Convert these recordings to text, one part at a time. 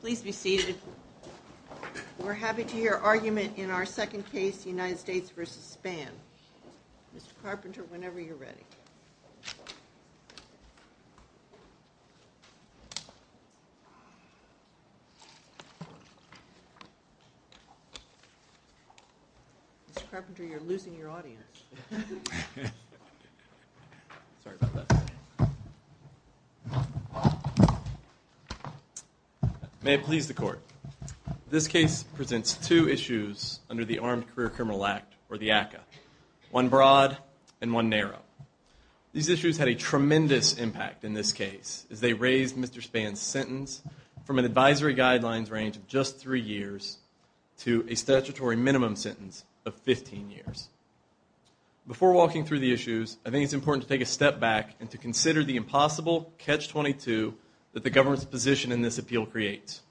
Please be seated. We're happy to hear argument in our second case, United States v. Span. Mr. Carpenter, whenever you're ready. Mr. Carpenter, you're losing your audience. Sorry about that. May it please the court. This case presents two issues under the Armed Career Criminal Act, or the ACCA. One broad and one narrow. These issues had a tremendous impact in this case as they raised Mr. Span's sentence from an advisory guidelines range of just three years to a statutory minimum sentence of 15 years. Before walking through the issues, I think it's important to take a step back and to consider the impossible catch-22 that the government's position in this appeal creates.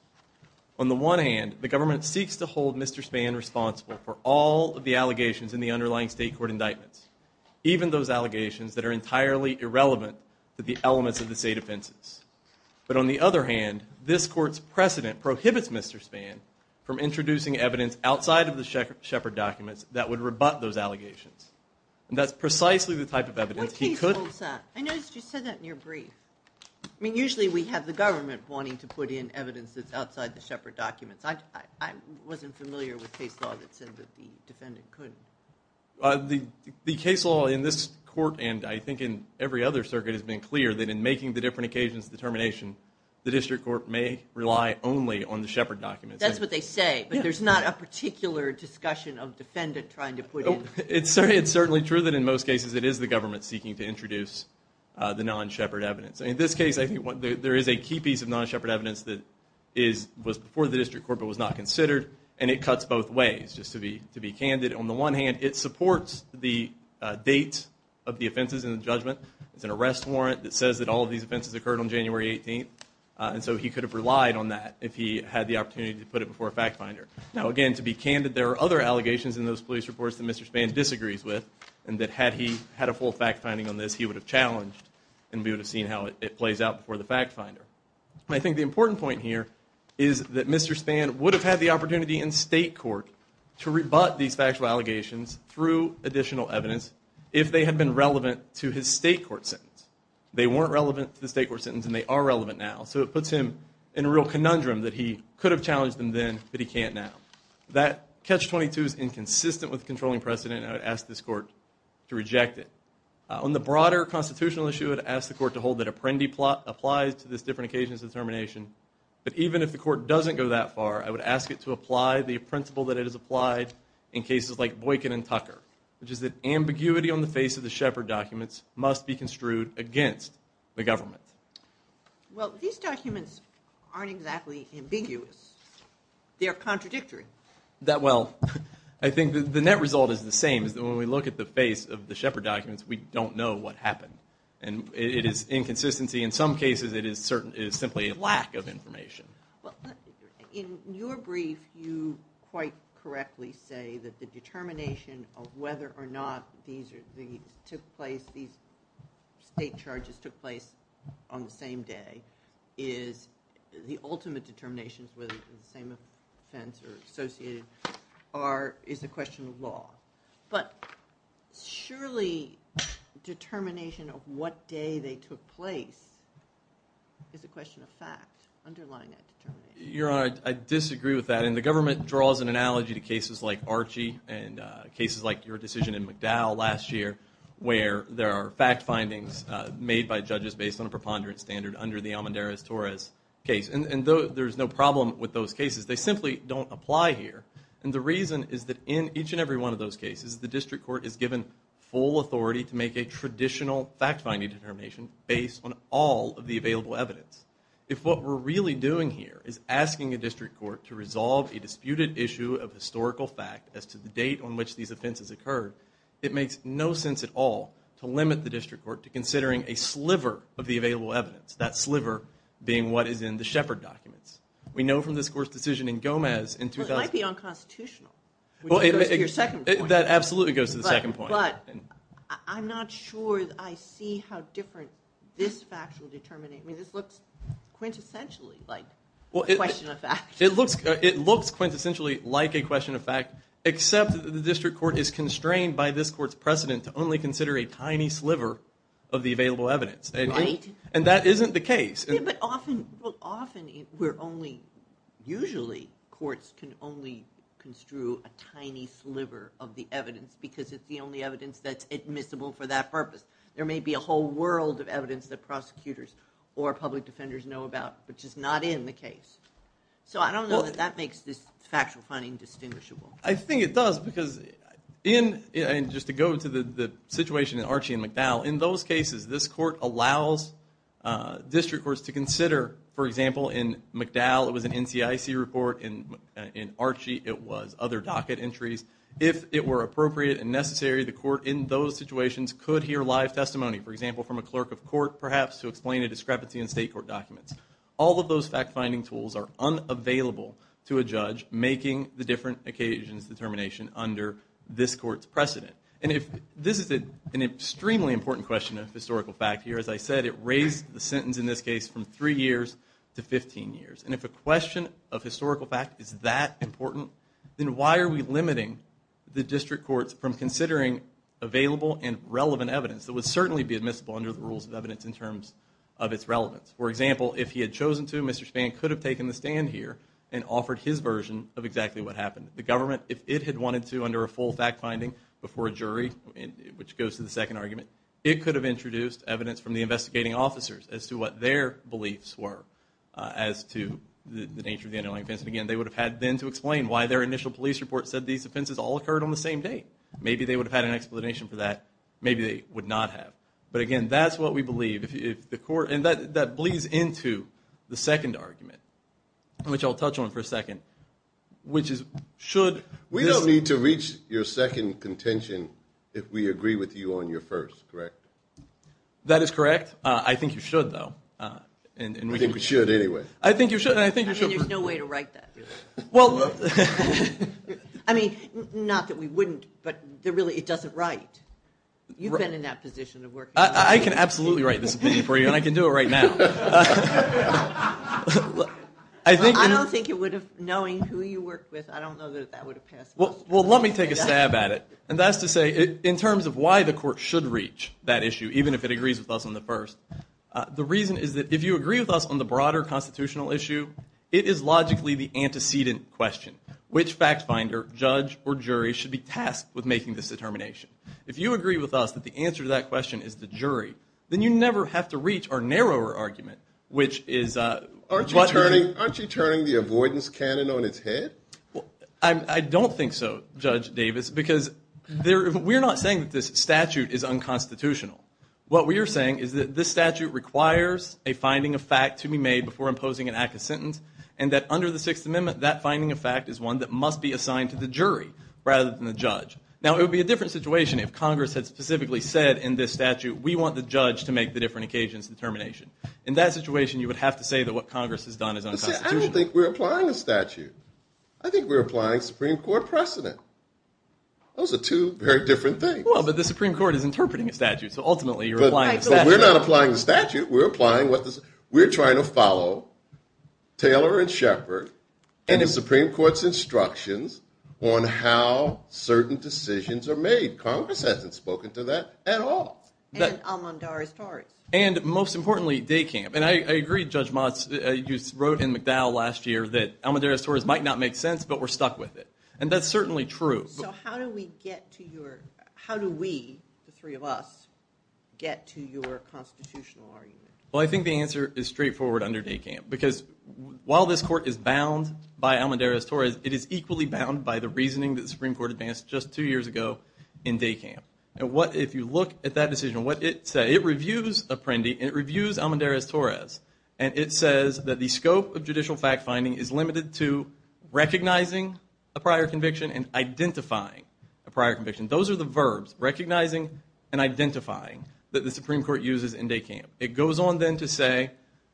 On the one hand, the government seeks to hold Mr. Span responsible for all of the allegations in the underlying state court indictments, even those allegations that are entirely irrelevant to the elements of the state offenses. But on the other hand, this court's precedent prohibits Mr. Span from introducing evidence outside of the Shepard documents that would rebut those allegations. And that's precisely the type of evidence he could... What case holds that? I noticed you said that in your brief. I mean, usually we have the government wanting to put in evidence that's outside the Shepard documents. I wasn't familiar with case law that said that the defendant could. The case law in this court, and I think in every other circuit, has been clear that in making the different occasions of determination, the district court may rely only on the Shepard documents. That's what they say, but there's not a particular discussion of defendant trying to put in... It's certainly true that in most cases it is the government seeking to introduce the non-Shepard evidence. In this case, I think there is a key piece of non-Shepard evidence that was before the district court but was not considered, and it cuts both ways, just to be candid. On the one hand, it supports the date of the offenses in the judgment. It's an arrest warrant that says that all of these offenses occurred on January 18th, and so he could have relied on that if he had the opportunity to put it before a fact finder. Now, again, to be candid, there are other allegations in those police reports that Mr. Spann disagrees with, and that had he had a full fact finding on this, he would have challenged and we would have seen how it plays out before the fact finder. I think the important point here is that Mr. Spann would have had the opportunity in state court to rebut these factual allegations through additional evidence if they had been relevant to his state court sentence. They weren't relevant to the state court sentence, and they are relevant now, so it puts him in a real conundrum that he could have challenged them then, but he can't now. That catch-22 is inconsistent with the controlling precedent, and I would ask this court to reject it. On the broader constitutional issue, I would ask the court to hold that Apprendi plot applies to this different occasion of determination, but even if the court doesn't go that far, I would ask it to apply the principle that it has applied in cases like Boykin and Tucker, which is that ambiguity on the face of the Shepard documents must be construed against the government. Well, these documents aren't exactly ambiguous. They're contradictory. Well, I think the net result is the same, is that when we look at the face of the Shepard documents, we don't know what happened, and it is inconsistency. In some cases, it is simply a lack of information. In your brief, you quite correctly say that the determination of whether or not these state charges took place on the same day is the ultimate determination, whether it's the same offense or associated, is a question of law. But surely determination of what day they took place is a question of fact underlying that determination. Your Honor, I disagree with that, and the government draws an analogy to cases like Archie and cases like your decision in McDowell last year where there are fact findings made by judges based on a preponderance standard under the Almendarez-Torres case. And there's no problem with those cases. They simply don't apply here. And the reason is that in each and every one of those cases, the district court is given full authority to make a traditional fact-finding determination based on all of the available evidence. If what we're really doing here is asking a district court to resolve a disputed issue of historical fact as to the date on which these offenses occurred, it makes no sense at all to limit the district court to considering a sliver of the available evidence, that sliver being what is in the Shepard documents. We know from this Court's decision in Gomez in 2000... Well, it might be unconstitutional, which goes to your second point. That absolutely goes to the second point. But I'm not sure I see how different this fact will determine it. I mean, this looks quintessentially like a question of fact. It looks quintessentially like a question of fact, except that the district court is constrained by this Court's precedent to only consider a tiny sliver of the available evidence. Right. And that isn't the case. Yeah, but often we're only... Usually courts can only construe a tiny sliver of the evidence because it's the only evidence that's admissible for that purpose. There may be a whole world of evidence that prosecutors or public defenders know about, which is not in the case. So I don't know that that makes this factual finding distinguishable. I think it does because in... And just to go to the situation in Archie and McDowell, in those cases this Court allows district courts to consider, for example, in McDowell it was an NCIC report, in Archie it was other docket entries. If it were appropriate and necessary, the court in those situations could hear live testimony, for example, from a clerk of court, perhaps, to explain a discrepancy in state court documents. All of those fact-finding tools are unavailable to a judge making the different occasions determination under this Court's precedent. And this is an extremely important question of historical fact here. As I said, it raised the sentence in this case from 3 years to 15 years. And if a question of historical fact is that important, then why are we limiting the district courts from considering available and relevant evidence that would certainly be admissible under the rules of evidence in terms of its relevance? For example, if he had chosen to, Mr. Spann could have taken the stand here and offered his version of exactly what happened. The government, if it had wanted to under a full fact-finding before a jury, which goes to the second argument, it could have introduced evidence from the investigating officers as to what their beliefs were as to the nature of the underlying offense. And again, they would have had then to explain why their initial police report said these offenses all occurred on the same day. Maybe they would have had an explanation for that, maybe they would not have. But, again, that's what we believe. And that bleeds into the second argument, which I'll touch on for a second, which is should this need to reach your second contention if we agree with you on your first, correct? That is correct. I think you should, though. I think we should anyway. I think you should. I mean, there's no way to write that. Well, look. I mean, not that we wouldn't, but really it doesn't write. You've been in that position of working. I can absolutely write this opinion for you, and I can do it right now. I don't think it would have, knowing who you work with, I don't know that that would have passed. Well, let me take a stab at it. And that's to say, in terms of why the court should reach that issue, even if it agrees with us on the first, the reason is that if you agree with us on the broader constitutional issue, it is logically the antecedent question. Which fact-finder, judge, or jury should be tasked with making this determination? If you agree with us that the answer to that question is the jury, then you never have to reach our narrower argument, which is what? Aren't you turning the avoidance cannon on its head? I don't think so, Judge Davis, because we're not saying that this statute is unconstitutional. What we are saying is that this statute requires a finding of fact to be made before imposing an act of sentence, and that under the Sixth Amendment that finding of fact is one that must be assigned to the jury rather than the judge. Now, it would be a different situation if Congress had specifically said in this statute, we want the judge to make the different occasions determination. In that situation, you would have to say that what Congress has done is unconstitutional. I don't think we're applying a statute. I think we're applying Supreme Court precedent. Those are two very different things. Well, but the Supreme Court is interpreting a statute, so ultimately you're applying a statute. But we're not applying a statute. We're trying to follow Taylor and Shepard and the Supreme Court's instructions on how certain decisions are made. Congress hasn't spoken to that at all. And Almodarra's Tories. And most importantly, DECAMP. And I agree, Judge Motz. You wrote in McDowell last year that Almodarra's Tories might not make sense, but we're stuck with it. And that's certainly true. So how do we get to your – how do we, the three of us, get to your constitutional argument? Well, I think the answer is straightforward under DECAMP. Because while this court is bound by Almodarra's Tories, it is equally bound by the reasoning that the Supreme Court advanced just two years ago in DECAMP. And what – if you look at that decision, what it said, it reviews Apprendi and it reviews Almodarra's Tories. And it says that the scope of judicial fact-finding is limited to recognizing a prior conviction and identifying a prior conviction. Those are the verbs, recognizing and identifying, that the Supreme Court uses in DECAMP. It goes on then to say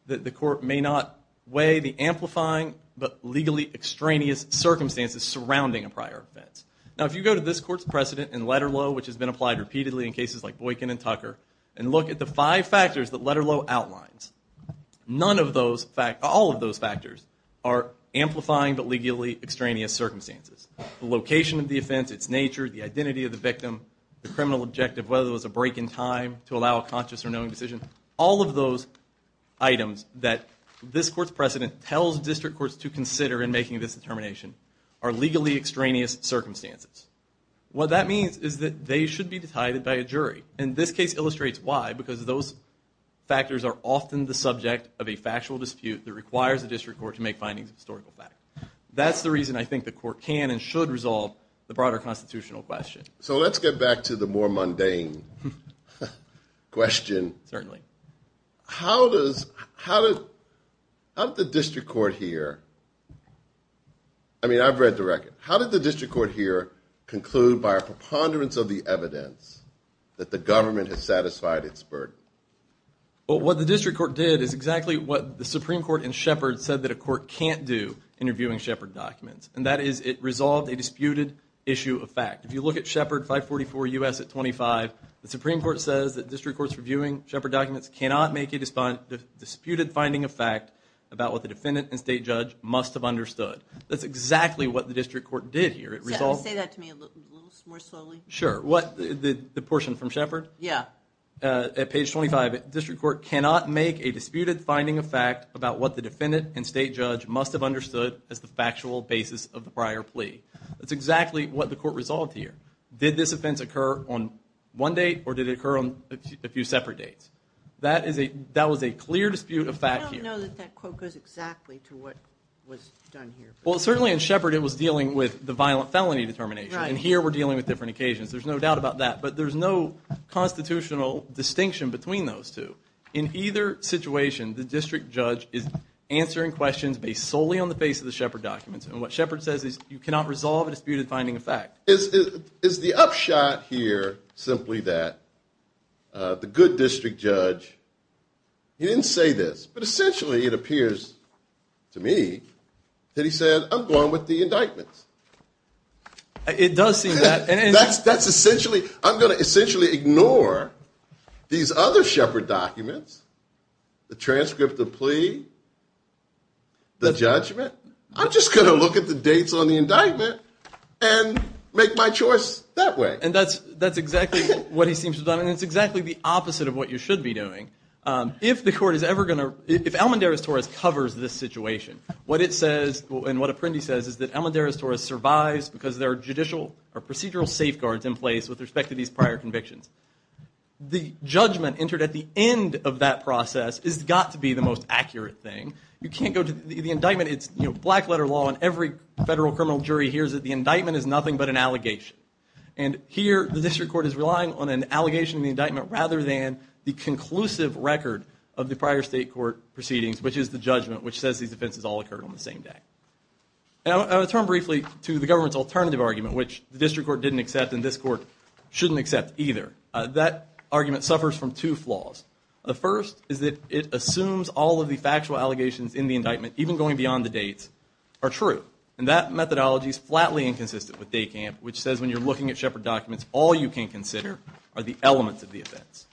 that the court may not weigh the amplifying but legally extraneous circumstances surrounding a prior offense. Now, if you go to this court's precedent in Letterlow, which has been applied repeatedly in cases like Boykin and Tucker, and look at the five factors that Letterlow outlines, none of those – all of those factors are amplifying but legally extraneous circumstances. The location of the offense, its nature, the identity of the victim, the criminal objective, whether it was a break in time to allow a conscious or knowing decision. All of those items that this court's precedent tells district courts to consider in making this determination are legally extraneous circumstances. What that means is that they should be decided by a jury. And this case illustrates why, because those factors are often the subject of a factual dispute that requires a district court to make findings of historical fact. That's the reason I think the court can and should resolve the broader constitutional question. So let's get back to the more mundane question. Certainly. How does – how did the district court here – I mean, I've read the record. How did the district court here conclude by a preponderance of the evidence that the government has satisfied its burden? Well, what the district court did is exactly what the Supreme Court in Shepard said that a court can't do in reviewing Shepard documents, and that is it resolved a disputed issue of fact. If you look at Shepard 544 U.S. at 25, the Supreme Court says that district courts reviewing Shepard documents cannot make a disputed finding of fact about what the defendant and state judge must have understood. That's exactly what the district court did here. Say that to me a little more slowly. Sure. The portion from Shepard? Yeah. At page 25, district court cannot make a disputed finding of fact about what the defendant and state judge must have understood as the factual basis of the prior plea. That's exactly what the court resolved here. Did this offense occur on one date, or did it occur on a few separate dates? That was a clear dispute of fact here. I don't know that that quote goes exactly to what was done here. Well, certainly in Shepard it was dealing with the violent felony determination, and here we're dealing with different occasions. There's no doubt about that, but there's no constitutional distinction between those two. In either situation, the district judge is answering questions based solely on the face of the Shepard documents, and what Shepard says is you cannot resolve a disputed finding of fact. Is the upshot here simply that the good district judge, he didn't say this, but essentially it appears to me that he said, I'm going with the indictments. It does seem that. That's essentially, I'm going to essentially ignore these other Shepard documents, the transcript of plea, the judgment. I'm just going to look at the dates on the indictment and make my choice that way. And that's exactly what he seems to have done, and it's exactly the opposite of what you should be doing. If the court is ever going to, if Almendarez-Torres covers this situation, what it says and what Apprendi says is that Almendarez-Torres survives because there are judicial or procedural safeguards in place with respect to these prior convictions. The judgment entered at the end of that process has got to be the most accurate thing. You can't go to the indictment. It's black letter law, and every federal criminal jury hears it. The indictment is nothing but an allegation. And here the district court is relying on an allegation in the indictment rather than the conclusive record of the prior state court proceedings, which is the judgment, which says these offenses all occurred on the same day. I'll turn briefly to the government's alternative argument, which the district court didn't accept and this court shouldn't accept either. That argument suffers from two flaws. The first is that it assumes all of the factual allegations in the indictment, even going beyond the dates, are true. And that methodology is flatly inconsistent with DECAMP, which says when you're looking at Shepard documents, all you can consider are the elements of the offense.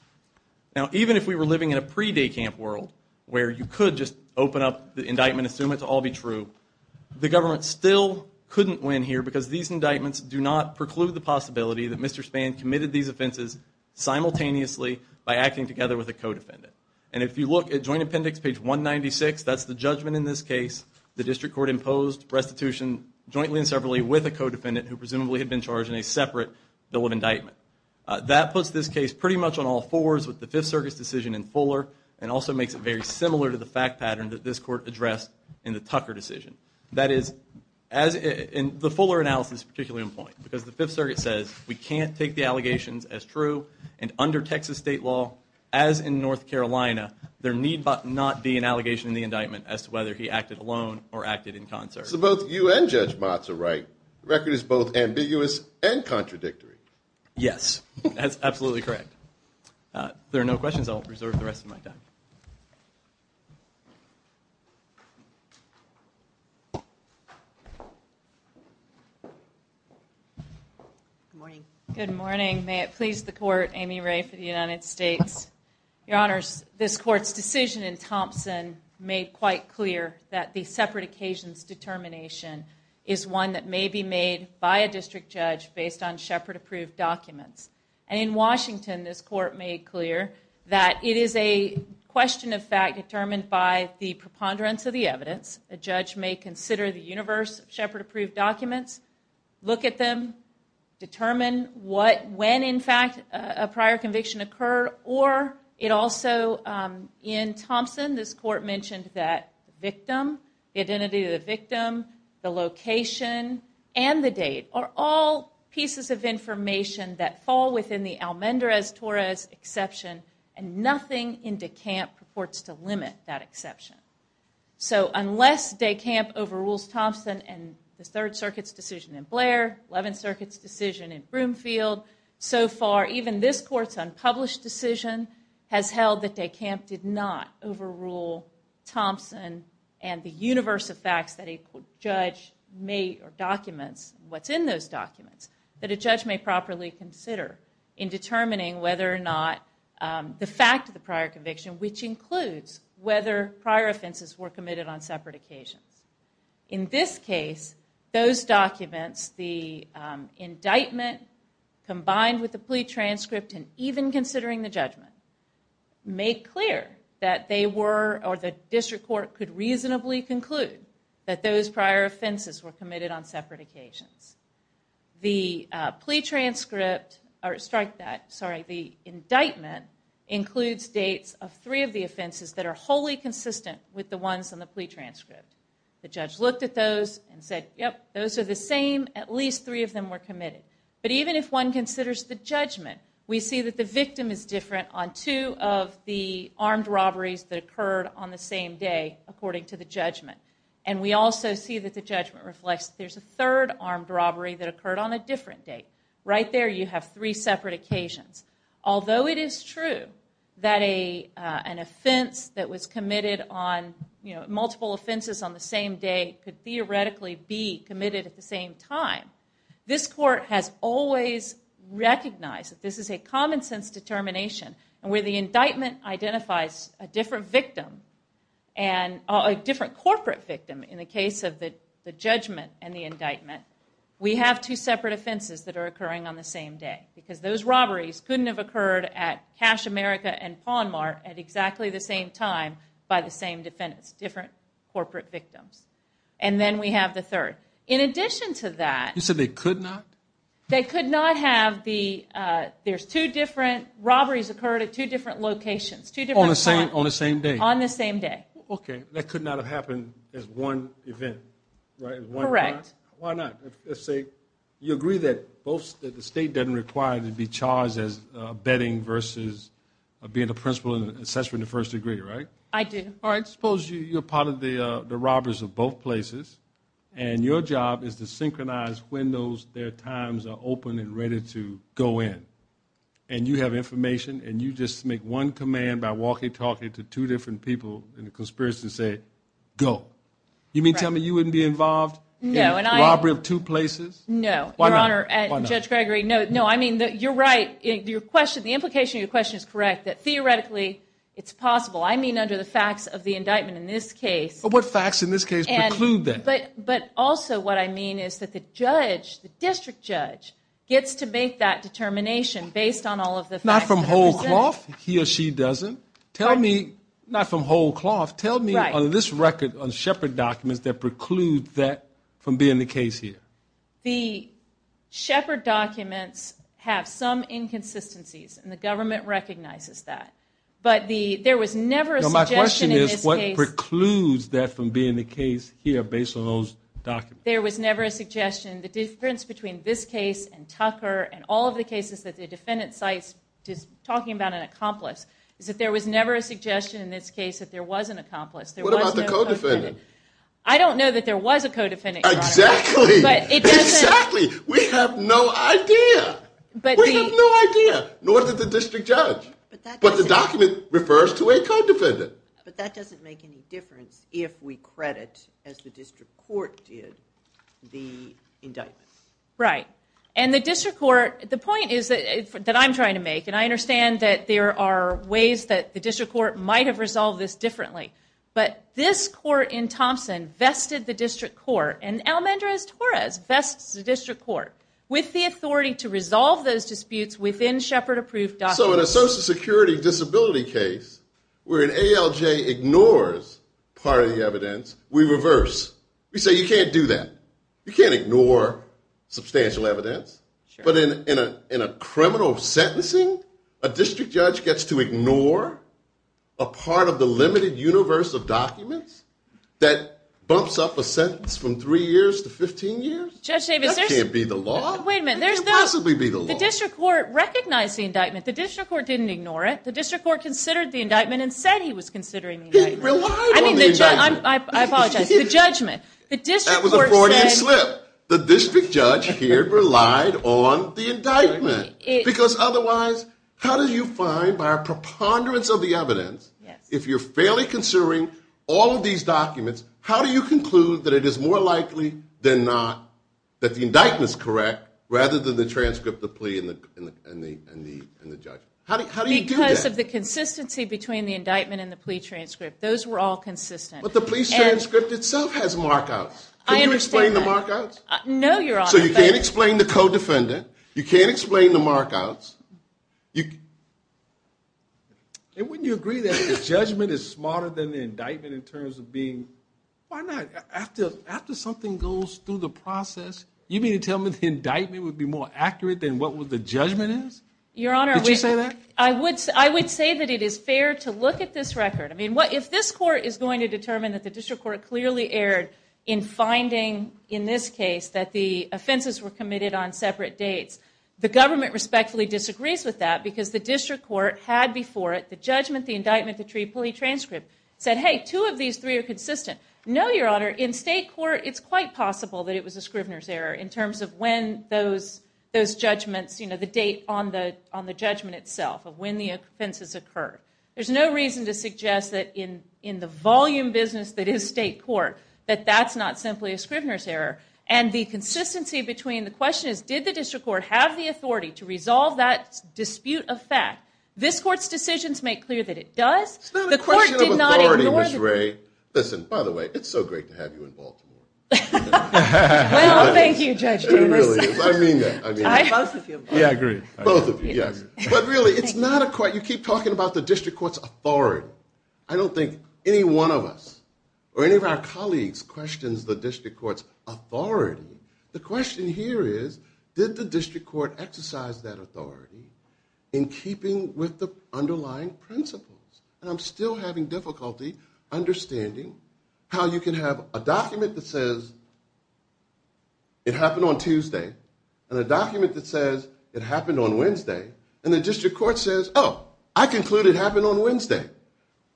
Now, even if we were living in a pre-DECAMP world where you could just open up the indictment, assume it to all be true, the government still couldn't win here because these indictments do not preclude the possibility that Mr. Spann committed these offenses simultaneously by acting together with a co-defendant. And if you look at Joint Appendix page 196, that's the judgment in this case. The district court imposed restitution jointly and separately with a co-defendant who presumably had been charged in a separate bill of indictment. That puts this case pretty much on all fours with the Fifth Circuit's decision in Fuller and also makes it very similar to the fact pattern that this court addressed in the Tucker decision. That is, the Fuller analysis is particularly important because the Fifth Circuit says we can't take the allegations as true and under Texas state law, as in North Carolina, there need not be an allegation in the indictment as to whether he acted alone or acted in concert. So both you and Judge Motz are right. The record is both ambiguous and contradictory. Yes, that's absolutely correct. If there are no questions, I'll reserve the rest of my time. Good morning. Good morning. May it please the court, Amy Ray for the United States. Your Honors, this court's decision in Thompson made quite clear that the separate occasions determination is one that may be made by a district judge based on Shepard-approved documents. And in Washington, this court made clear that it is a question of fact determined by the preponderance of the evidence. A judge may consider the universe of Shepard-approved documents, look at them, determine when, in fact, a prior conviction occurred, or it also, in Thompson, this court mentioned that the victim, the identity of the victim, the location, and the date are all pieces of information that fall within the Almendrez-Torres exception and nothing in DeCamp purports to limit that exception. So unless DeCamp overrules Thompson and the Third Circuit's decision in Blair, Eleventh Circuit's decision in Broomfield, so far even this court's unpublished decision has held that DeCamp did not overrule Thompson and the universe of facts that a judge may, or documents, what's in those documents, that a judge may properly consider in determining whether or not the fact of the prior conviction, which includes whether prior offenses were committed on separate occasions. In this case, those documents, the indictment combined with the plea transcript and even considering the judgment, make clear that they were, or the district court could reasonably conclude that those prior offenses were committed on separate occasions. The indictment includes dates of three of the offenses that are wholly consistent with the ones in the plea transcript. The judge looked at those and said, yep, those are the same, at least three of them were committed. But even if one considers the judgment, we see that the victim is different on two of the according to the judgment. And we also see that the judgment reflects that there's a third armed robbery that occurred on a different date. Right there you have three separate occasions. Although it is true that an offense that was committed on, you know, multiple offenses on the same day could theoretically be committed at the same time, this court has always recognized that this is a common sense determination. And where the indictment identifies a different victim, a different corporate victim in the case of the judgment and the indictment, we have two separate offenses that are occurring on the same day because those robberies couldn't have occurred at Cash America and Pawn Mart at exactly the same time by the same defendants, different corporate victims. And then we have the third. In addition to that... You said they could not? They could not have the – there's two different robberies occurred at two different locations, two different times. On the same day? On the same day. Okay. That could not have happened as one event, right? Correct. Why not? Let's say you agree that the state doesn't require to be charged as betting versus being the principal and the assessor in the first degree, right? I do. All right. Suppose you're part of the robbers of both places and your job is to synchronize when their times are open and ready to go in. And you have information and you just make one command by walking, talking to two different people in the conspiracy to say, go. You mean tell me you wouldn't be involved in a robbery of two places? No. Why not? Your Honor, Judge Gregory, no. I mean, you're right. The implication of your question is correct, that theoretically it's possible. I mean under the facts of the indictment in this case. What facts in this case preclude that? But also what I mean is that the judge, the district judge, gets to make that determination based on all of the facts that are presented. Not from whole cloth? He or she doesn't? Not from whole cloth. Tell me on this record, on Shepard documents, that preclude that from being the case here. The Shepard documents have some inconsistencies, and the government recognizes that. But there was never a suggestion in this case. What precludes that from being the case here based on those documents? There was never a suggestion. The difference between this case and Tucker and all of the cases that the defendant cites talking about an accomplice is that there was never a suggestion in this case that there was an accomplice. What about the co-defendant? I don't know that there was a co-defendant, Your Honor. Exactly. Exactly. We have no idea. We have no idea, nor did the district judge. But the document refers to a co-defendant. But that doesn't make any difference if we credit, as the district court did, the indictment. Right. And the district court, the point is that I'm trying to make, and I understand that there are ways that the district court might have resolved this differently, but this court in Thompson vested the district court, and Almendrez-Torres vests the district court with the authority to resolve those disputes within Shepard-approved documents. So in a Social Security disability case where an ALJ ignores part of the evidence, we reverse. We say you can't do that. You can't ignore substantial evidence. But in a criminal sentencing, a district judge gets to ignore a part of the limited universe of documents that bumps up a sentence from three years to 15 years? That can't be the law. Wait a minute. It can't possibly be the law. The district court recognized the indictment. The district court didn't ignore it. The district court considered the indictment and said he was considering the indictment. He relied on the indictment. I apologize. The judgment. That was a Freudian slip. The district judge here relied on the indictment. Because otherwise, how do you find by a preponderance of the evidence, if you're fairly considering all of these documents, how do you conclude that it is more likely than not that the indictment is correct rather than the transcript, the plea, and the judgment? How do you do that? Because of the consistency between the indictment and the plea transcript. Those were all consistent. But the plea transcript itself has markouts. Can you explain the markouts? No, Your Honor. So you can't explain the codefendant. You can't explain the markouts. Wouldn't you agree that the judgment is smarter than the indictment in terms of being? Why not? After something goes through the process, you mean to tell me the indictment would be more accurate than what the judgment is? Your Honor, I would say that it is fair to look at this record. I mean, if this court is going to determine that the district court clearly erred in finding in this case that the offenses were committed on separate dates, the government respectfully disagrees with that because the district court had before it the judgment, the indictment, the plea transcript, said, hey, two of these three are consistent. No, Your Honor. In state court, it's quite possible that it was a Scrivener's error in terms of when those judgments, the date on the judgment itself of when the offenses occurred. There's no reason to suggest that in the volume business that is state court, that that's not simply a Scrivener's error. And the consistency between the question is, did the district court have the authority to resolve that dispute of fact? This court's decisions make clear that it does. It's not a question of authority, Ms. Ray. Listen, by the way, it's so great to have you in Baltimore. Well, thank you, Judge Timbers. It really is. I mean that. Both of you. Yeah, I agree. Both of you, yes. But really, it's not a question. You keep talking about the district court's authority. I don't think any one of us or any of our colleagues questions the district court's authority. The question here is, did the district court exercise that authority in keeping with the underlying principles? And I'm still having difficulty understanding how you can have a document that says it happened on Tuesday and a document that says it happened on Wednesday and the district court says, oh, I conclude it happened on Wednesday.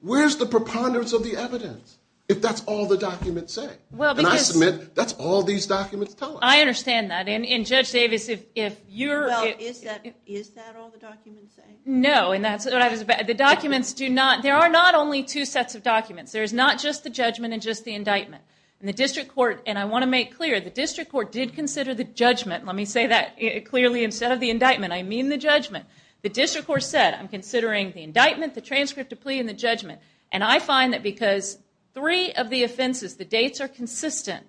Where's the preponderance of the evidence if that's all the documents say? And I submit that's all these documents tell us. I understand that. And, Judge Davis, if you're – Well, is that all the documents say? No, and that's what I was – The documents do not – There are not only two sets of documents. There is not just the judgment and just the indictment. And the district court – And I want to make clear, the district court did consider the judgment. Let me say that clearly. Instead of the indictment, I mean the judgment. The district court said, I'm considering the indictment, the transcript of plea, and the judgment. And I find that because three of the offenses, the dates are consistent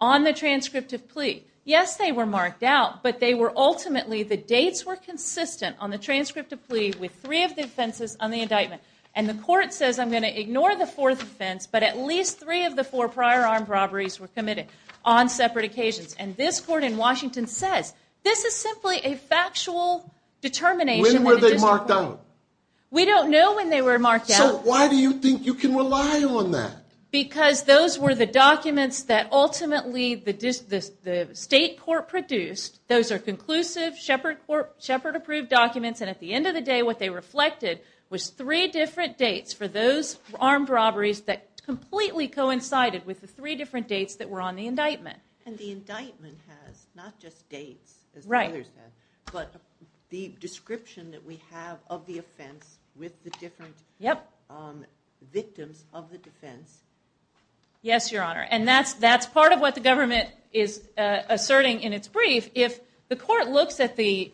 on the transcript of plea. Yes, they were marked out, but they were ultimately – And the court says, I'm going to ignore the fourth offense, but at least three of the four prior armed robberies were committed on separate occasions. And this court in Washington says, this is simply a factual determination. When were they marked out? We don't know when they were marked out. So why do you think you can rely on that? Because those were the documents that ultimately the state court produced. Those are conclusive, Shepard-approved documents. And at the end of the day, what they reflected was three different dates for those armed robberies that completely coincided with the three different dates that were on the indictment. And the indictment has not just dates, as others have, but the description that we have of the offense with the different victims of the defense. Yes, Your Honor. And that's part of what the government is asserting in its brief. If the court looks at the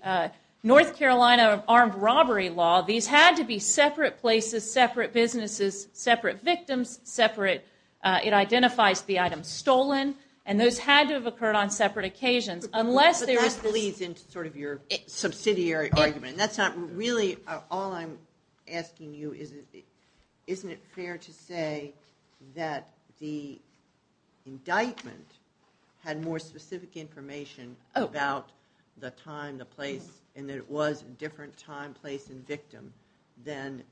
North Carolina armed robbery law, these had to be separate places, separate businesses, separate victims, separate – it identifies the item stolen, and those had to have occurred on separate occasions. But that leads into sort of your subsidiary argument. That's not really – all I'm asking you is, isn't it fair to say that the indictment had more specific information about the time, the place, and that it was a different time, place, and victim than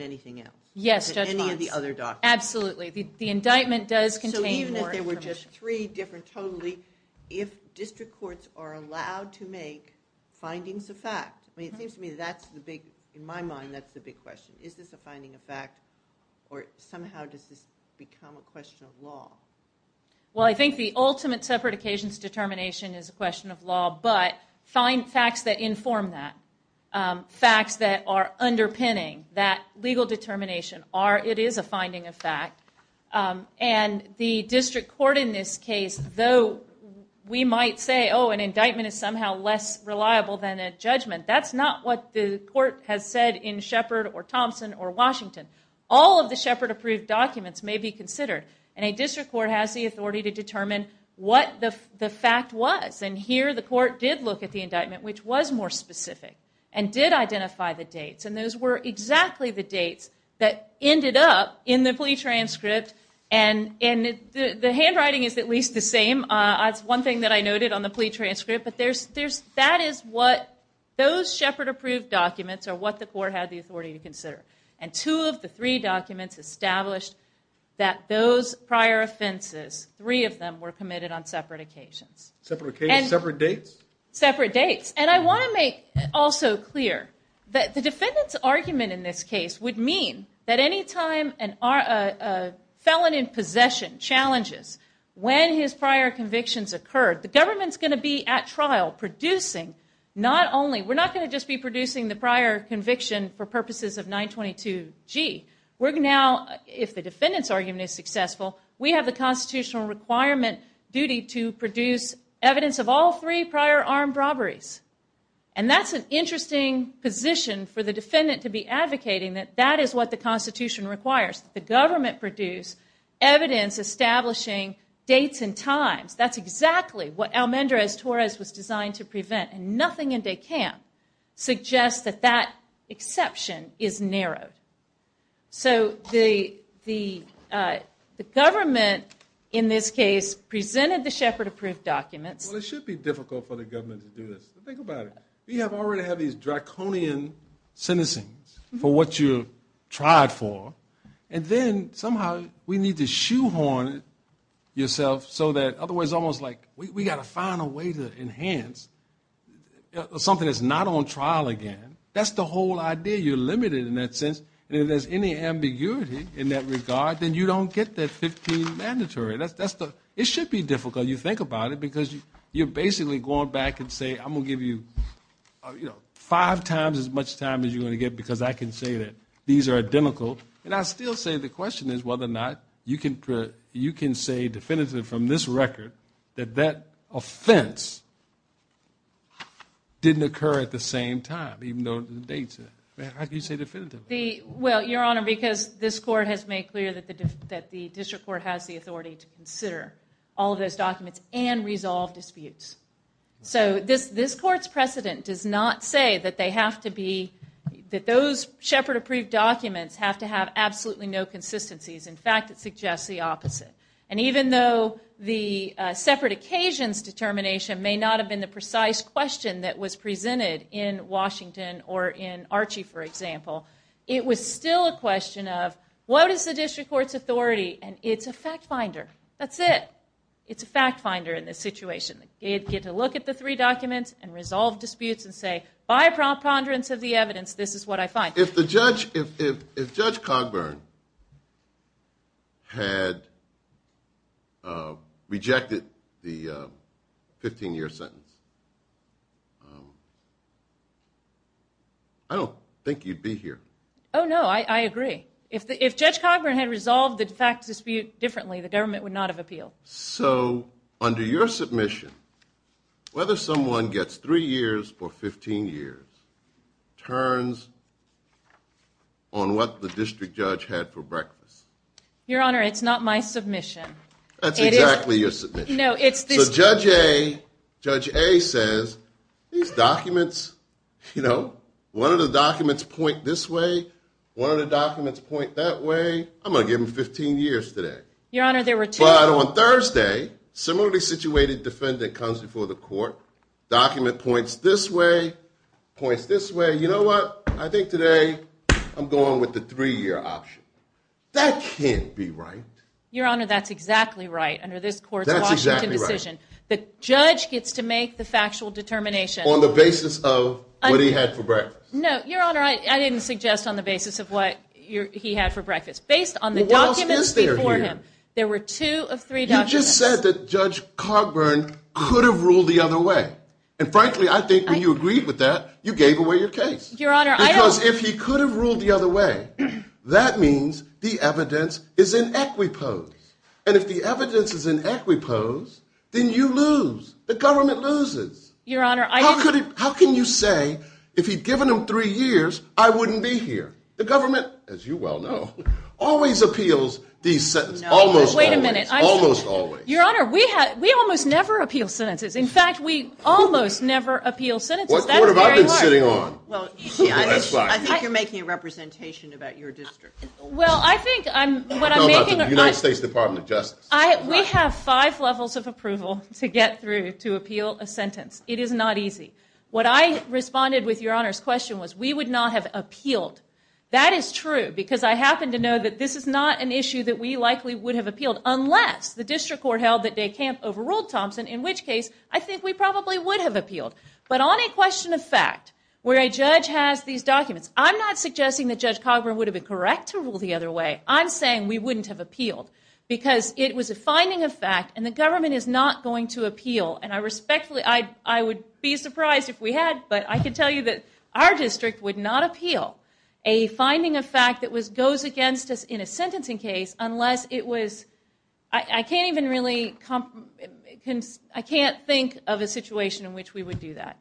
anything else? Yes, Judge Vance. Than any of the other documents. Absolutely. The indictment does contain more information. So even if there were just three different totally, if district courts are allowed to make findings of fact – I mean, it seems to me that's the big – in my mind, that's the big question. Is this a finding of fact, or somehow does this become a question of law? Well, I think the ultimate separate occasions determination is a question of law, but find facts that inform that, facts that are underpinning that legal determination. It is a finding of fact. And the district court in this case, though we might say, oh, an indictment is somehow less reliable than a judgment, that's not what the court has said in Shepard or Thompson or Washington. All of the Shepard-approved documents may be considered, and a district court has the authority to determine what the fact was. And here the court did look at the indictment, which was more specific, and did identify the dates. And those were exactly the dates that ended up in the plea transcript. And the handwriting is at least the same. That's one thing that I noted on the plea transcript. But that is what those Shepard-approved documents are what the court had the authority to consider. And two of the three documents established that those prior offenses, three of them were committed on separate occasions. Separate dates? Separate dates. And I want to make also clear that the defendant's argument in this case would mean that any time a felon in possession challenges when his prior convictions occurred, the government is going to be at trial producing not only, we're not going to just be producing the prior conviction for purposes of 922G. We're now, if the defendant's argument is successful, we have the constitutional requirement duty to produce evidence of all three prior armed robberies. And that's an interesting position for the defendant to be advocating that that is what the Constitution requires, that the government produce evidence establishing dates and times. That's exactly what Almendrez-Torres was designed to prevent. And nothing in DECAMP suggests that that exception is narrowed. So the government in this case presented the Shepard-approved documents. Well, it should be difficult for the government to do this. Think about it. We already have these draconian sentencing for what you tried for. And then somehow we need to shoehorn it yourself so that otherwise it's almost like we've got to find a way to enhance something that's not on trial again. That's the whole idea. You're limited in that sense. And if there's any ambiguity in that regard, then you don't get that 15 mandatory. It should be difficult, you think about it, because you're basically going back and say, I'm going to give you five times as much time as you're going to get because I can say that these are identical. And I still say the question is whether or not you can say definitively from this record that that offense didn't occur at the same time, even though it dates it. How can you say definitively? Well, Your Honor, because this court has made clear that the district court has the authority to consider all of those documents and resolve disputes. So this court's precedent does not say that they have to be – that those Shepard-approved documents have to have absolutely no consistencies. In fact, it suggests the opposite. And even though the separate occasions determination may not have been the precise question that was presented in Washington or in Archie, for example, it was still a question of what is the district court's authority? And it's a fact finder. That's it. It's a fact finder in this situation. They get to look at the three documents and resolve disputes and say, by preponderance of the evidence, this is what I find. If Judge Cogburn had rejected the 15-year sentence, I don't think you'd be here. Oh, no, I agree. If Judge Cogburn had resolved the fact dispute differently, the government would not have appealed. So under your submission, whether someone gets three years for 15 years turns on what the district judge had for breakfast. Your Honor, it's not my submission. That's exactly your submission. So Judge A says, these documents, you know, one of the documents point this way, one of the documents point that way. I'm going to give them 15 years today. Your Honor, there were two. But on Thursday, similarly situated defendant comes before the court, document points this way, points this way. You know what? I think today I'm going with the three-year option. That can't be right. Your Honor, that's exactly right. Under this court's Washington decision, the judge gets to make the factual determination. On the basis of what he had for breakfast. No, Your Honor, I didn't suggest on the basis of what he had for breakfast. Based on the documents before him, there were two of three documents. You just said that Judge Cogburn could have ruled the other way. And frankly, I think when you agreed with that, you gave away your case. Your Honor, I don't. Because if he could have ruled the other way, that means the evidence is in equipose. And if the evidence is in equipose, then you lose. The government loses. Your Honor, I didn't. How can you say if he'd given him three years, I wouldn't be here? The government, as you well know, always appeals these sentences. Almost always. Wait a minute. Almost always. Your Honor, we almost never appeal sentences. In fact, we almost never appeal sentences. What court have I been sitting on? I think you're making a representation about your district. Well, I think what I'm making. I'm talking about the United States Department of Justice. We have five levels of approval to get through to appeal a sentence. It is not easy. What I responded with, Your Honor's question, was we would not have appealed. That is true. Because I happen to know that this is not an issue that we likely would have appealed. Unless the district court held that DeCamp overruled Thompson. In which case, I think we probably would have appealed. But on a question of fact, where a judge has these documents, I'm not suggesting that Judge Cogburn would have been correct to rule the other way. I'm saying we wouldn't have appealed. Because it was a finding of fact. And the government is not going to appeal. And I respectfully, I would be surprised if we had. But I can tell you that our district would not appeal a finding of fact that goes against us in a sentencing case unless it was, I can't even really, I can't think of a situation in which we would do that.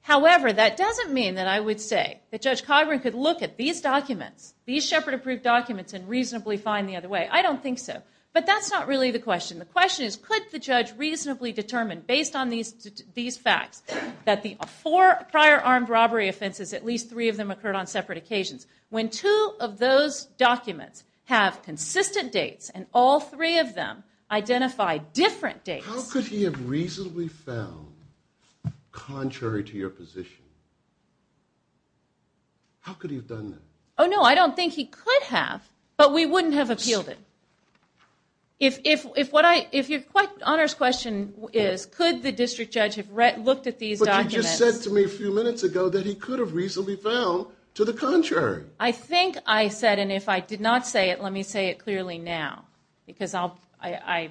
However, that doesn't mean that I would say that Judge Cogburn could look at these documents, these Shepard approved documents, and reasonably find the other way. I don't think so. But that's not really the question. The question is could the judge reasonably determine based on these facts that the four prior armed robbery offenses, at least three of them occurred on separate occasions. When two of those documents have consistent dates and all three of them identify different dates. How could he have reasonably found contrary to your position? How could he have done that? Oh, no, I don't think he could have. But we wouldn't have appealed it. If your honest question is could the district judge have looked at these documents. But you just said to me a few minutes ago that he could have reasonably found to the contrary. I think I said, and if I did not say it, let me say it clearly now. Because I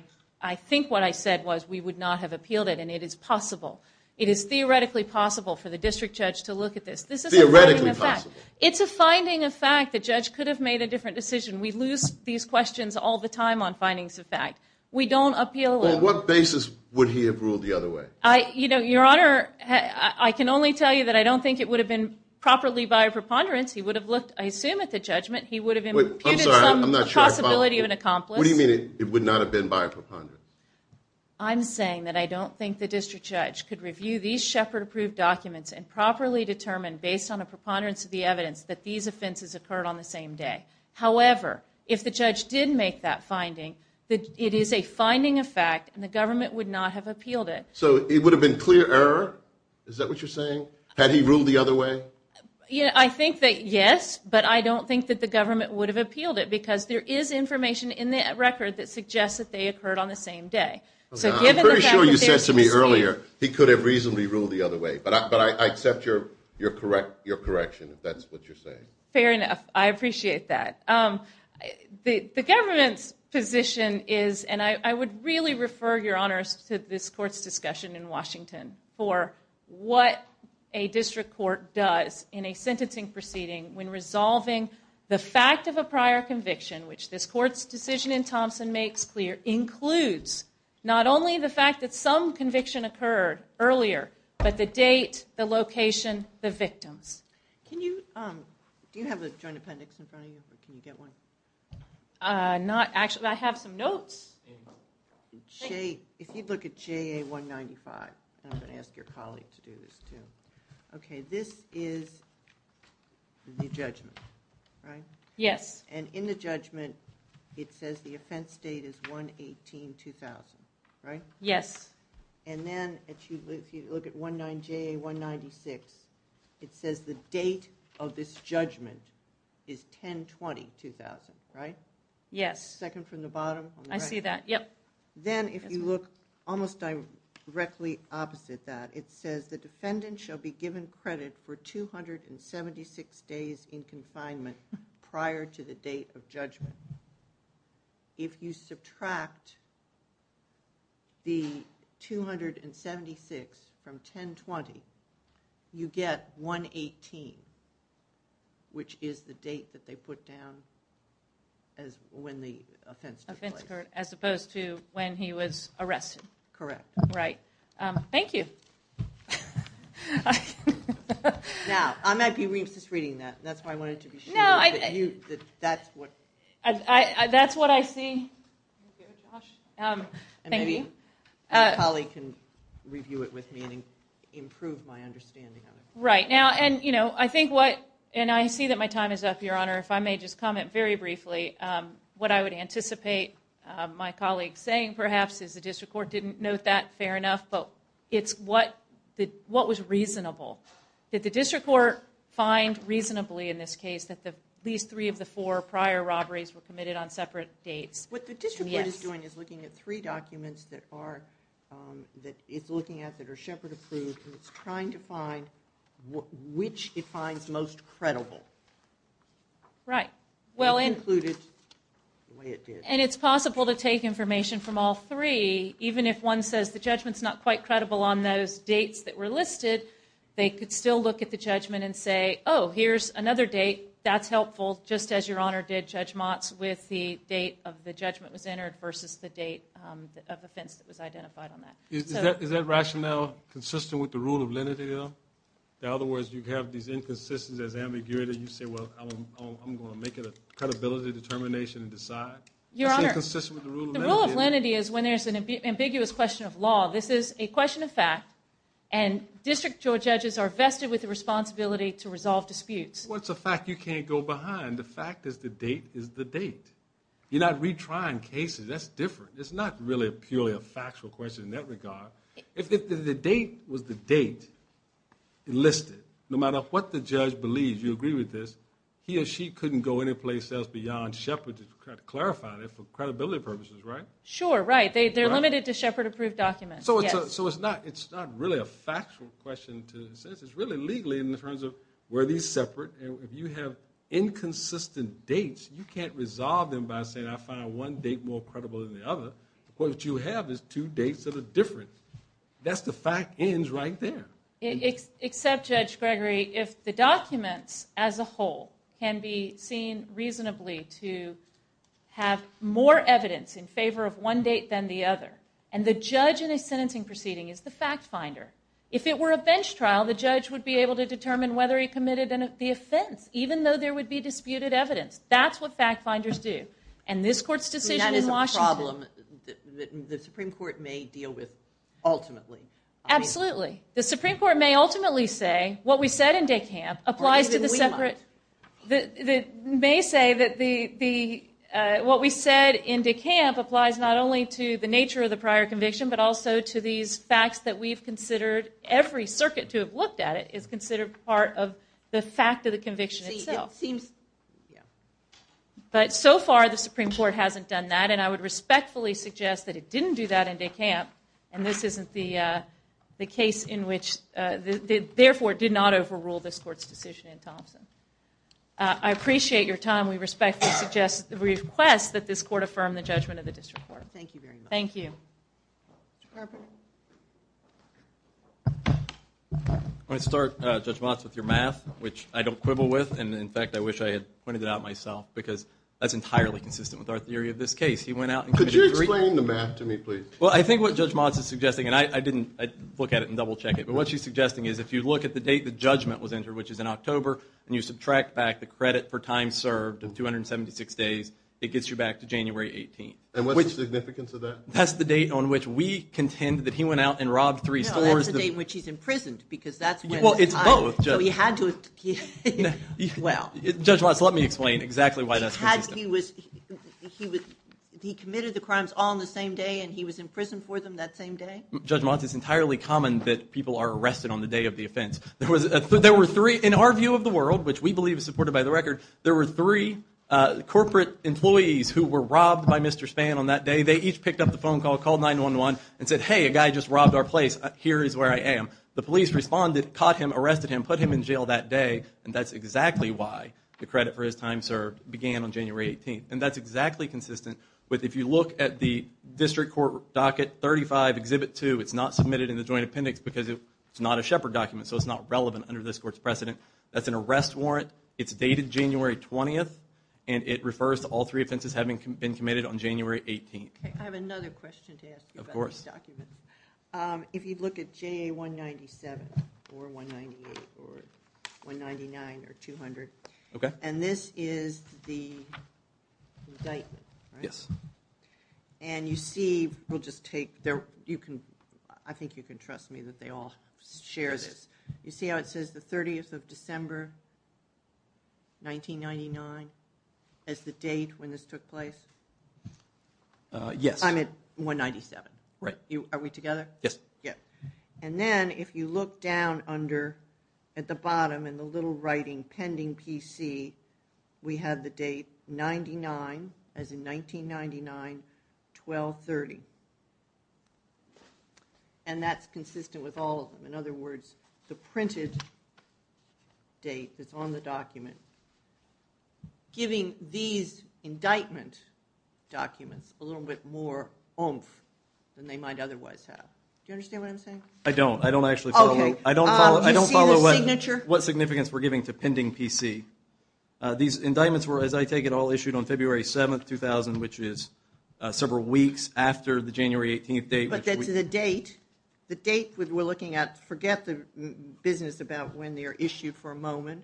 think what I said was we would not have appealed it, and it is possible. It is theoretically possible for the district judge to look at this. This is a finding of fact. Theoretically possible. It's a finding of fact. The judge could have made a different decision. We lose these questions all the time on findings of fact. We don't appeal them. On what basis would he have ruled the other way? Your Honor, I can only tell you that I don't think it would have been properly by a preponderance. He would have looked, I assume, at the judgment. He would have imputed some possibility of an accomplice. What do you mean it would not have been by a preponderance? I'm saying that I don't think the district judge could review these Shepard-approved documents and properly determine based on a preponderance of the evidence that these offenses occurred on the same day. However, if the judge did make that finding, it is a finding of fact, and the government would not have appealed it. So it would have been clear error? Is that what you're saying? Had he ruled the other way? I think that yes, but I don't think that the government would have appealed it because there is information in that record that suggests that they occurred on the same day. I'm pretty sure you said to me earlier he could have reasonably ruled the other way, but I accept your correction if that's what you're saying. Fair enough. I appreciate that. The government's position is, and I would really refer your honors to this court's discussion in Washington for what a district court does in a sentencing proceeding when resolving the fact of a prior conviction, which this court's decision in Thompson makes clear includes not only the fact that some conviction occurred earlier, but the date, the location, the victims. Do you have a joint appendix in front of you? Can you get one? Not actually. I have some notes. If you look at JA 195, and I'm going to ask your colleague to do this too, this is the judgment, right? Yes. And in the judgment it says the offense date is 118-2000, right? Yes. And then if you look at JA 196, it says the date of this judgment is 10-20-2000, right? Yes. Second from the bottom. I see that, yep. Then if you look almost directly opposite that, it says the defendant shall be given credit for 276 days in confinement prior to the date of judgment. If you subtract the 276 from 10-20, you get 118, which is the date that they put down when the offense took place. Offense occurred as opposed to when he was arrested. Correct. Right. Thank you. Now, I might be reading that. That's why I wanted to be sure that that's what. That's what I see. Thank you. My colleague can review it with me and improve my understanding of it. Right. And I see that my time is up, Your Honor. If I may just comment very briefly, what I would anticipate my colleague saying perhaps is the district court didn't note that fair enough, but it's what was reasonable. Did the district court find reasonably in this case that at least three of the four prior robberies were committed on separate dates? Yes. So what the district court is doing is looking at three documents that it's looking at that are Shepard approved, and it's trying to find which it finds most credible. Right. It concluded the way it did. And it's possible to take information from all three, even if one says the judgment's not quite credible on those dates that were listed, they could still look at the judgment and say, oh, here's another date, that's helpful, just as Your Honor did Judge Motz with the date of the judgment was entered versus the date of offense that was identified on that. Is that rationale consistent with the rule of lenity, though? In other words, you have these inconsistencies as ambiguity, you say, well, I'm going to make it a credibility determination and decide. Your Honor, the rule of lenity is when there's an ambiguous question of law. This is a question of fact, and district court judges are vested with the responsibility to resolve disputes. Well, it's a fact you can't go behind. The fact is the date is the date. You're not retrying cases. That's different. It's not really purely a factual question in that regard. If the date was the date listed, no matter what the judge believes, you agree with this, he or she couldn't go anyplace else beyond Shepard to clarify it for credibility purposes, right? Sure, right. They're limited to Shepard approved documents, yes. So it's not really a factual question to the sentence. It's really legally in terms of where these separate, and if you have inconsistent dates, you can't resolve them by saying I find one date more credible than the other. What you have is two dates that are different. That's the fact ends right there. Except, Judge Gregory, if the documents as a whole can be seen reasonably to have more evidence in favor of one date than the other, and the judge in a sentencing proceeding is the fact finder, if it were a bench trial, the judge would be able to determine whether he committed the offense, even though there would be disputed evidence. That's what fact finders do. And this court's decision in Washington. That is a problem that the Supreme Court may deal with ultimately. Absolutely. The Supreme Court may ultimately say what we said in DeCamp applies to the separate, may say that what we said in DeCamp applies not only to the nature of the look at it is considered part of the fact of the conviction itself. But so far the Supreme Court hasn't done that, and I would respectfully suggest that it didn't do that in DeCamp, and this isn't the case in which, therefore it did not overrule this court's decision in Thompson. I appreciate your time. We respectfully request that this court affirm the judgment of the district court. Thank you very much. Thank you. Mr. Carper. I want to start, Judge Motz, with your math, which I don't quibble with, and in fact I wish I had pointed it out myself because that's entirely consistent with our theory of this case. He went out and committed three. Could you explain the math to me, please? Well, I think what Judge Motz is suggesting, and I didn't look at it and double check it, but what she's suggesting is if you look at the date the judgment was entered, which is in October, and you subtract back the credit for time served in 276 days, it gets you back to January 18th. And what's the significance of that? That's the date on which we contend that he went out and robbed three stores. No, that's the date in which he's imprisoned because that's when. Well, it's both. So he had to. Well. Judge Motz, let me explain exactly why that's consistent. Had he was, he would, he committed the crimes all in the same day and he was in prison for them that same day? Judge Motz, it's entirely common that people are arrested on the day of the offense. There was a, there were three, in our view of the world, which we believe is supported by the record, there were three corporate employees who were robbed by Mr. Spann on that day. I mean, they each picked up the phone call, called 911 and said, Hey, a guy just robbed our place. Here is where I am. The police responded, caught him, arrested him, put him in jail that day. And that's exactly why the credit for his time served began on January 18th. And that's exactly consistent with, if you look at the district court docket 35 exhibit two, it's not submitted in the joint appendix because it's not a shepherd document. So it's not relevant under this court's precedent. That's an arrest warrant. It's dated January 20th. And it refers to all three offenses having been committed on January 18th. I have another question to ask you about this document. If you'd look at JA 197 or 198 or 199 or 200. Okay. And this is the indictment. Yes. And you see, we'll just take there. You can, I think you can trust me that they all share this. You see how it says the 30th of December, 1999. As the date when this took place. Yes. I'm at one 97. Right. Are we together? Yes. Yeah. And then if you look down under at the bottom and the little writing pending PC, we have the date 99 as in 1999, 1230. And that's consistent with all of them. In other words, The printed date that's on the document. Giving these indictment documents a little bit more than they might otherwise have. Do you understand what I'm saying? I don't, I don't actually follow. I don't follow. I don't follow what, what significance we're giving to pending PC. These indictments were, as I take it all issued on February 7th, 2000, which is several weeks after the January 18th date. But then to the date, the date we're looking at, forget the business about when they are issued for a moment.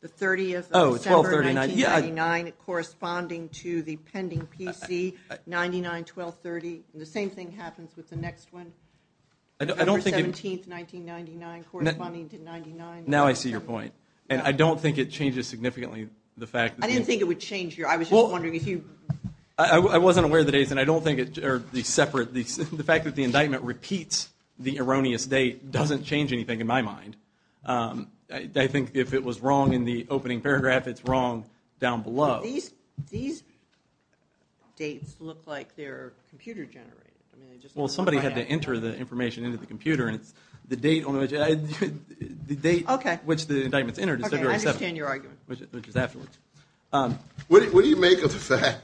The 30th. Oh, it's 1239. Yeah. Corresponding to the pending PC, 99, 1230. The same thing happens with the next one. I don't think. 17th, 1999 corresponding to 99. Now I see your point. And I don't think it changes significantly. The fact that. I didn't think it would change your, I was just wondering if you. I wasn't aware of the dates and I don't think it, or the separate, the fact that the indictment repeats the erroneous date, doesn't change anything in my mind. I think if it was wrong in the opening paragraph, it's wrong down below. These, these. Dates look like they're computer generated. Well, somebody had to enter the information into the computer and it's the date on which the date. Okay. Which the indictments entered. I understand your argument, which is afterwards. What do you make of the fact?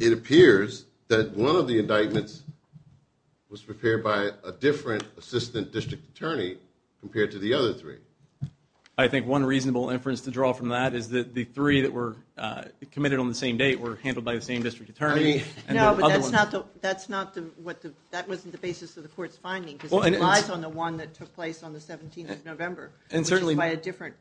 It appears that one of the indictments. Was prepared by a different assistant district attorney compared to the other three. I think one reasonable inference to draw from that is that the three that were committed on the same date were handled by the same district attorney. No, but that's not the, that's not the, what the, that wasn't the basis of the court's finding relies on the one that took place on the 17th of November. And certainly by a different.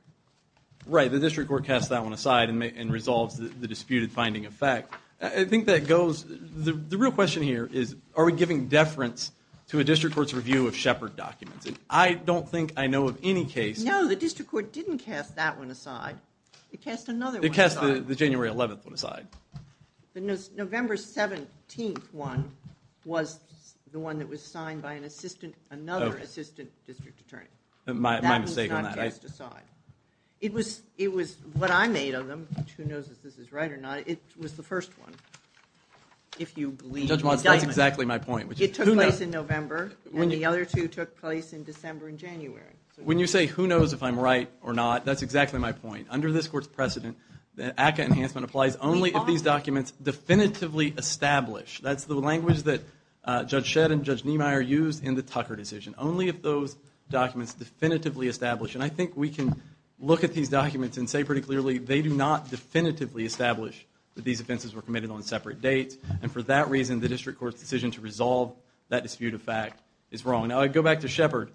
Right. The district court casts that one aside and resolves the disputed finding effect. I think that goes, the real question here is, are we giving deference to a district court's review of Shepard documents? And I don't think I know of any case. No, the district court didn't cast that one aside. It cast another one. It cast the January 11th one aside. The November 17th one was the one that was signed by an assistant, another assistant district attorney. My mistake on that. It was, it was what I made of them. Who knows if this is right or not. It was the first one. If you believe. That's exactly my point. It took place in November when the other two took place in December and January. When you say, who knows if I'm right or not, that's exactly my point. Under this court's precedent, that ACA enhancement applies only if these documents definitively establish. That's the language that Judge Shedd and Judge Niemeyer used in the Tucker decision. Only if those documents definitively establish, and I think we can look at these documents and say pretty clearly, they do not definitively establish that these offenses were committed on separate dates. And for that reason, the district court's decision to resolve that dispute of fact is wrong. Now I go back to Shepard,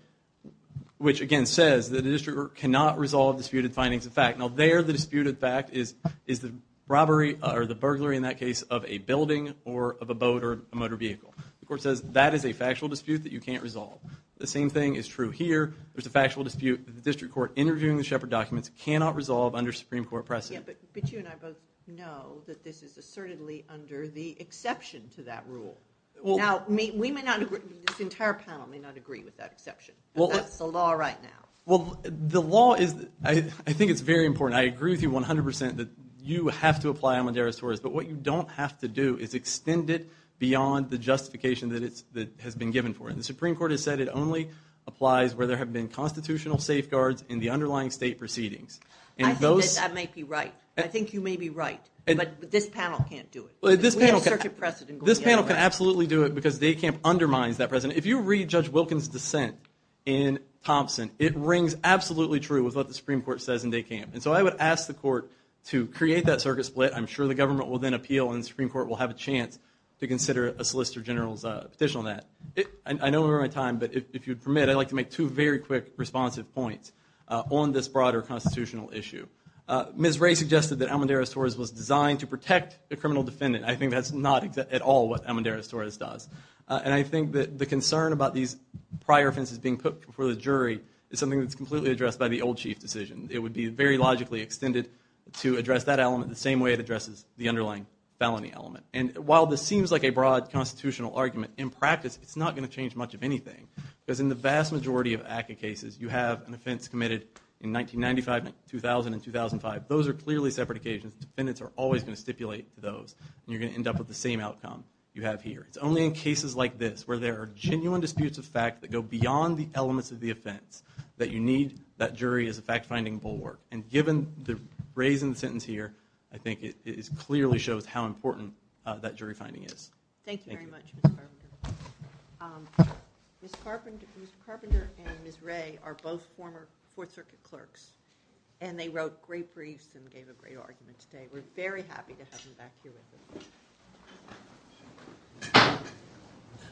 which again says that the district cannot resolve disputed findings of fact. Now there the disputed fact is, is the robbery or the burglary in that case of a building or of a boat or a motor vehicle. The court says that is a factual dispute that you can't resolve. The same thing is true here. There's a factual dispute that the district court interviewing the Shepard documents cannot resolve under Supreme Court precedent. But you and I both know that this is assertedly under the exception to that rule. Now we may not agree, this entire panel may not agree with that exception. Well, that's the law right now. Well, the law is, I think it's very important. I agree with you 100% that you have to apply Amadeiros Torres, but what you don't have to do is extend it beyond the justification that it's, that has been given for it. The Supreme Court has said it only applies where there have been constitutional safeguards in the underlying state proceedings. I think that may be right. I think you may be right, but this panel can't do it. This panel can absolutely do it because Day Camp undermines that precedent. If you read Judge Wilkins' dissent in Thompson, it rings absolutely true with what the Supreme Court says in Day Camp. And so I would ask the court to create that circuit split. I'm sure the government will then appeal and the Supreme Court will have a chance to consider a Solicitor General's petition on that. I don't remember my time, but if you'd permit, I'd like to make two very quick responsive points on this broader constitutional issue. Ms. Ray suggested that Amadeiros Torres was designed to protect the criminal defendant. I think that's not at all what Amadeiros Torres does. And I think that the concern about these prior offenses being put before the jury is something that's completely addressed by the old chief decision. It would be very logically extended to address that element the same way it addresses the underlying felony element. And while this seems like a broad constitutional argument, in practice it's not going to change much of anything. Because in the vast majority of ACCA cases, you have an offense committed in 1995, 2000, and 2005. Those are clearly separate occasions. Defendants are always going to stipulate for those. And you're going to end up with the same outcome you have here. It's only in cases like this where there are genuine disputes of fact that go beyond the elements of the offense that you need that jury is a fact-finding bulwark. And given the phrase in the sentence here, I think it clearly shows how important that jury finding is. Thank you very much, Mr. Carpenter. Mr. Carpenter and Ms. Ray are both former Fourth Circuit clerks. And they wrote great briefs and gave a great argument today. We're very happy to have them back here with us.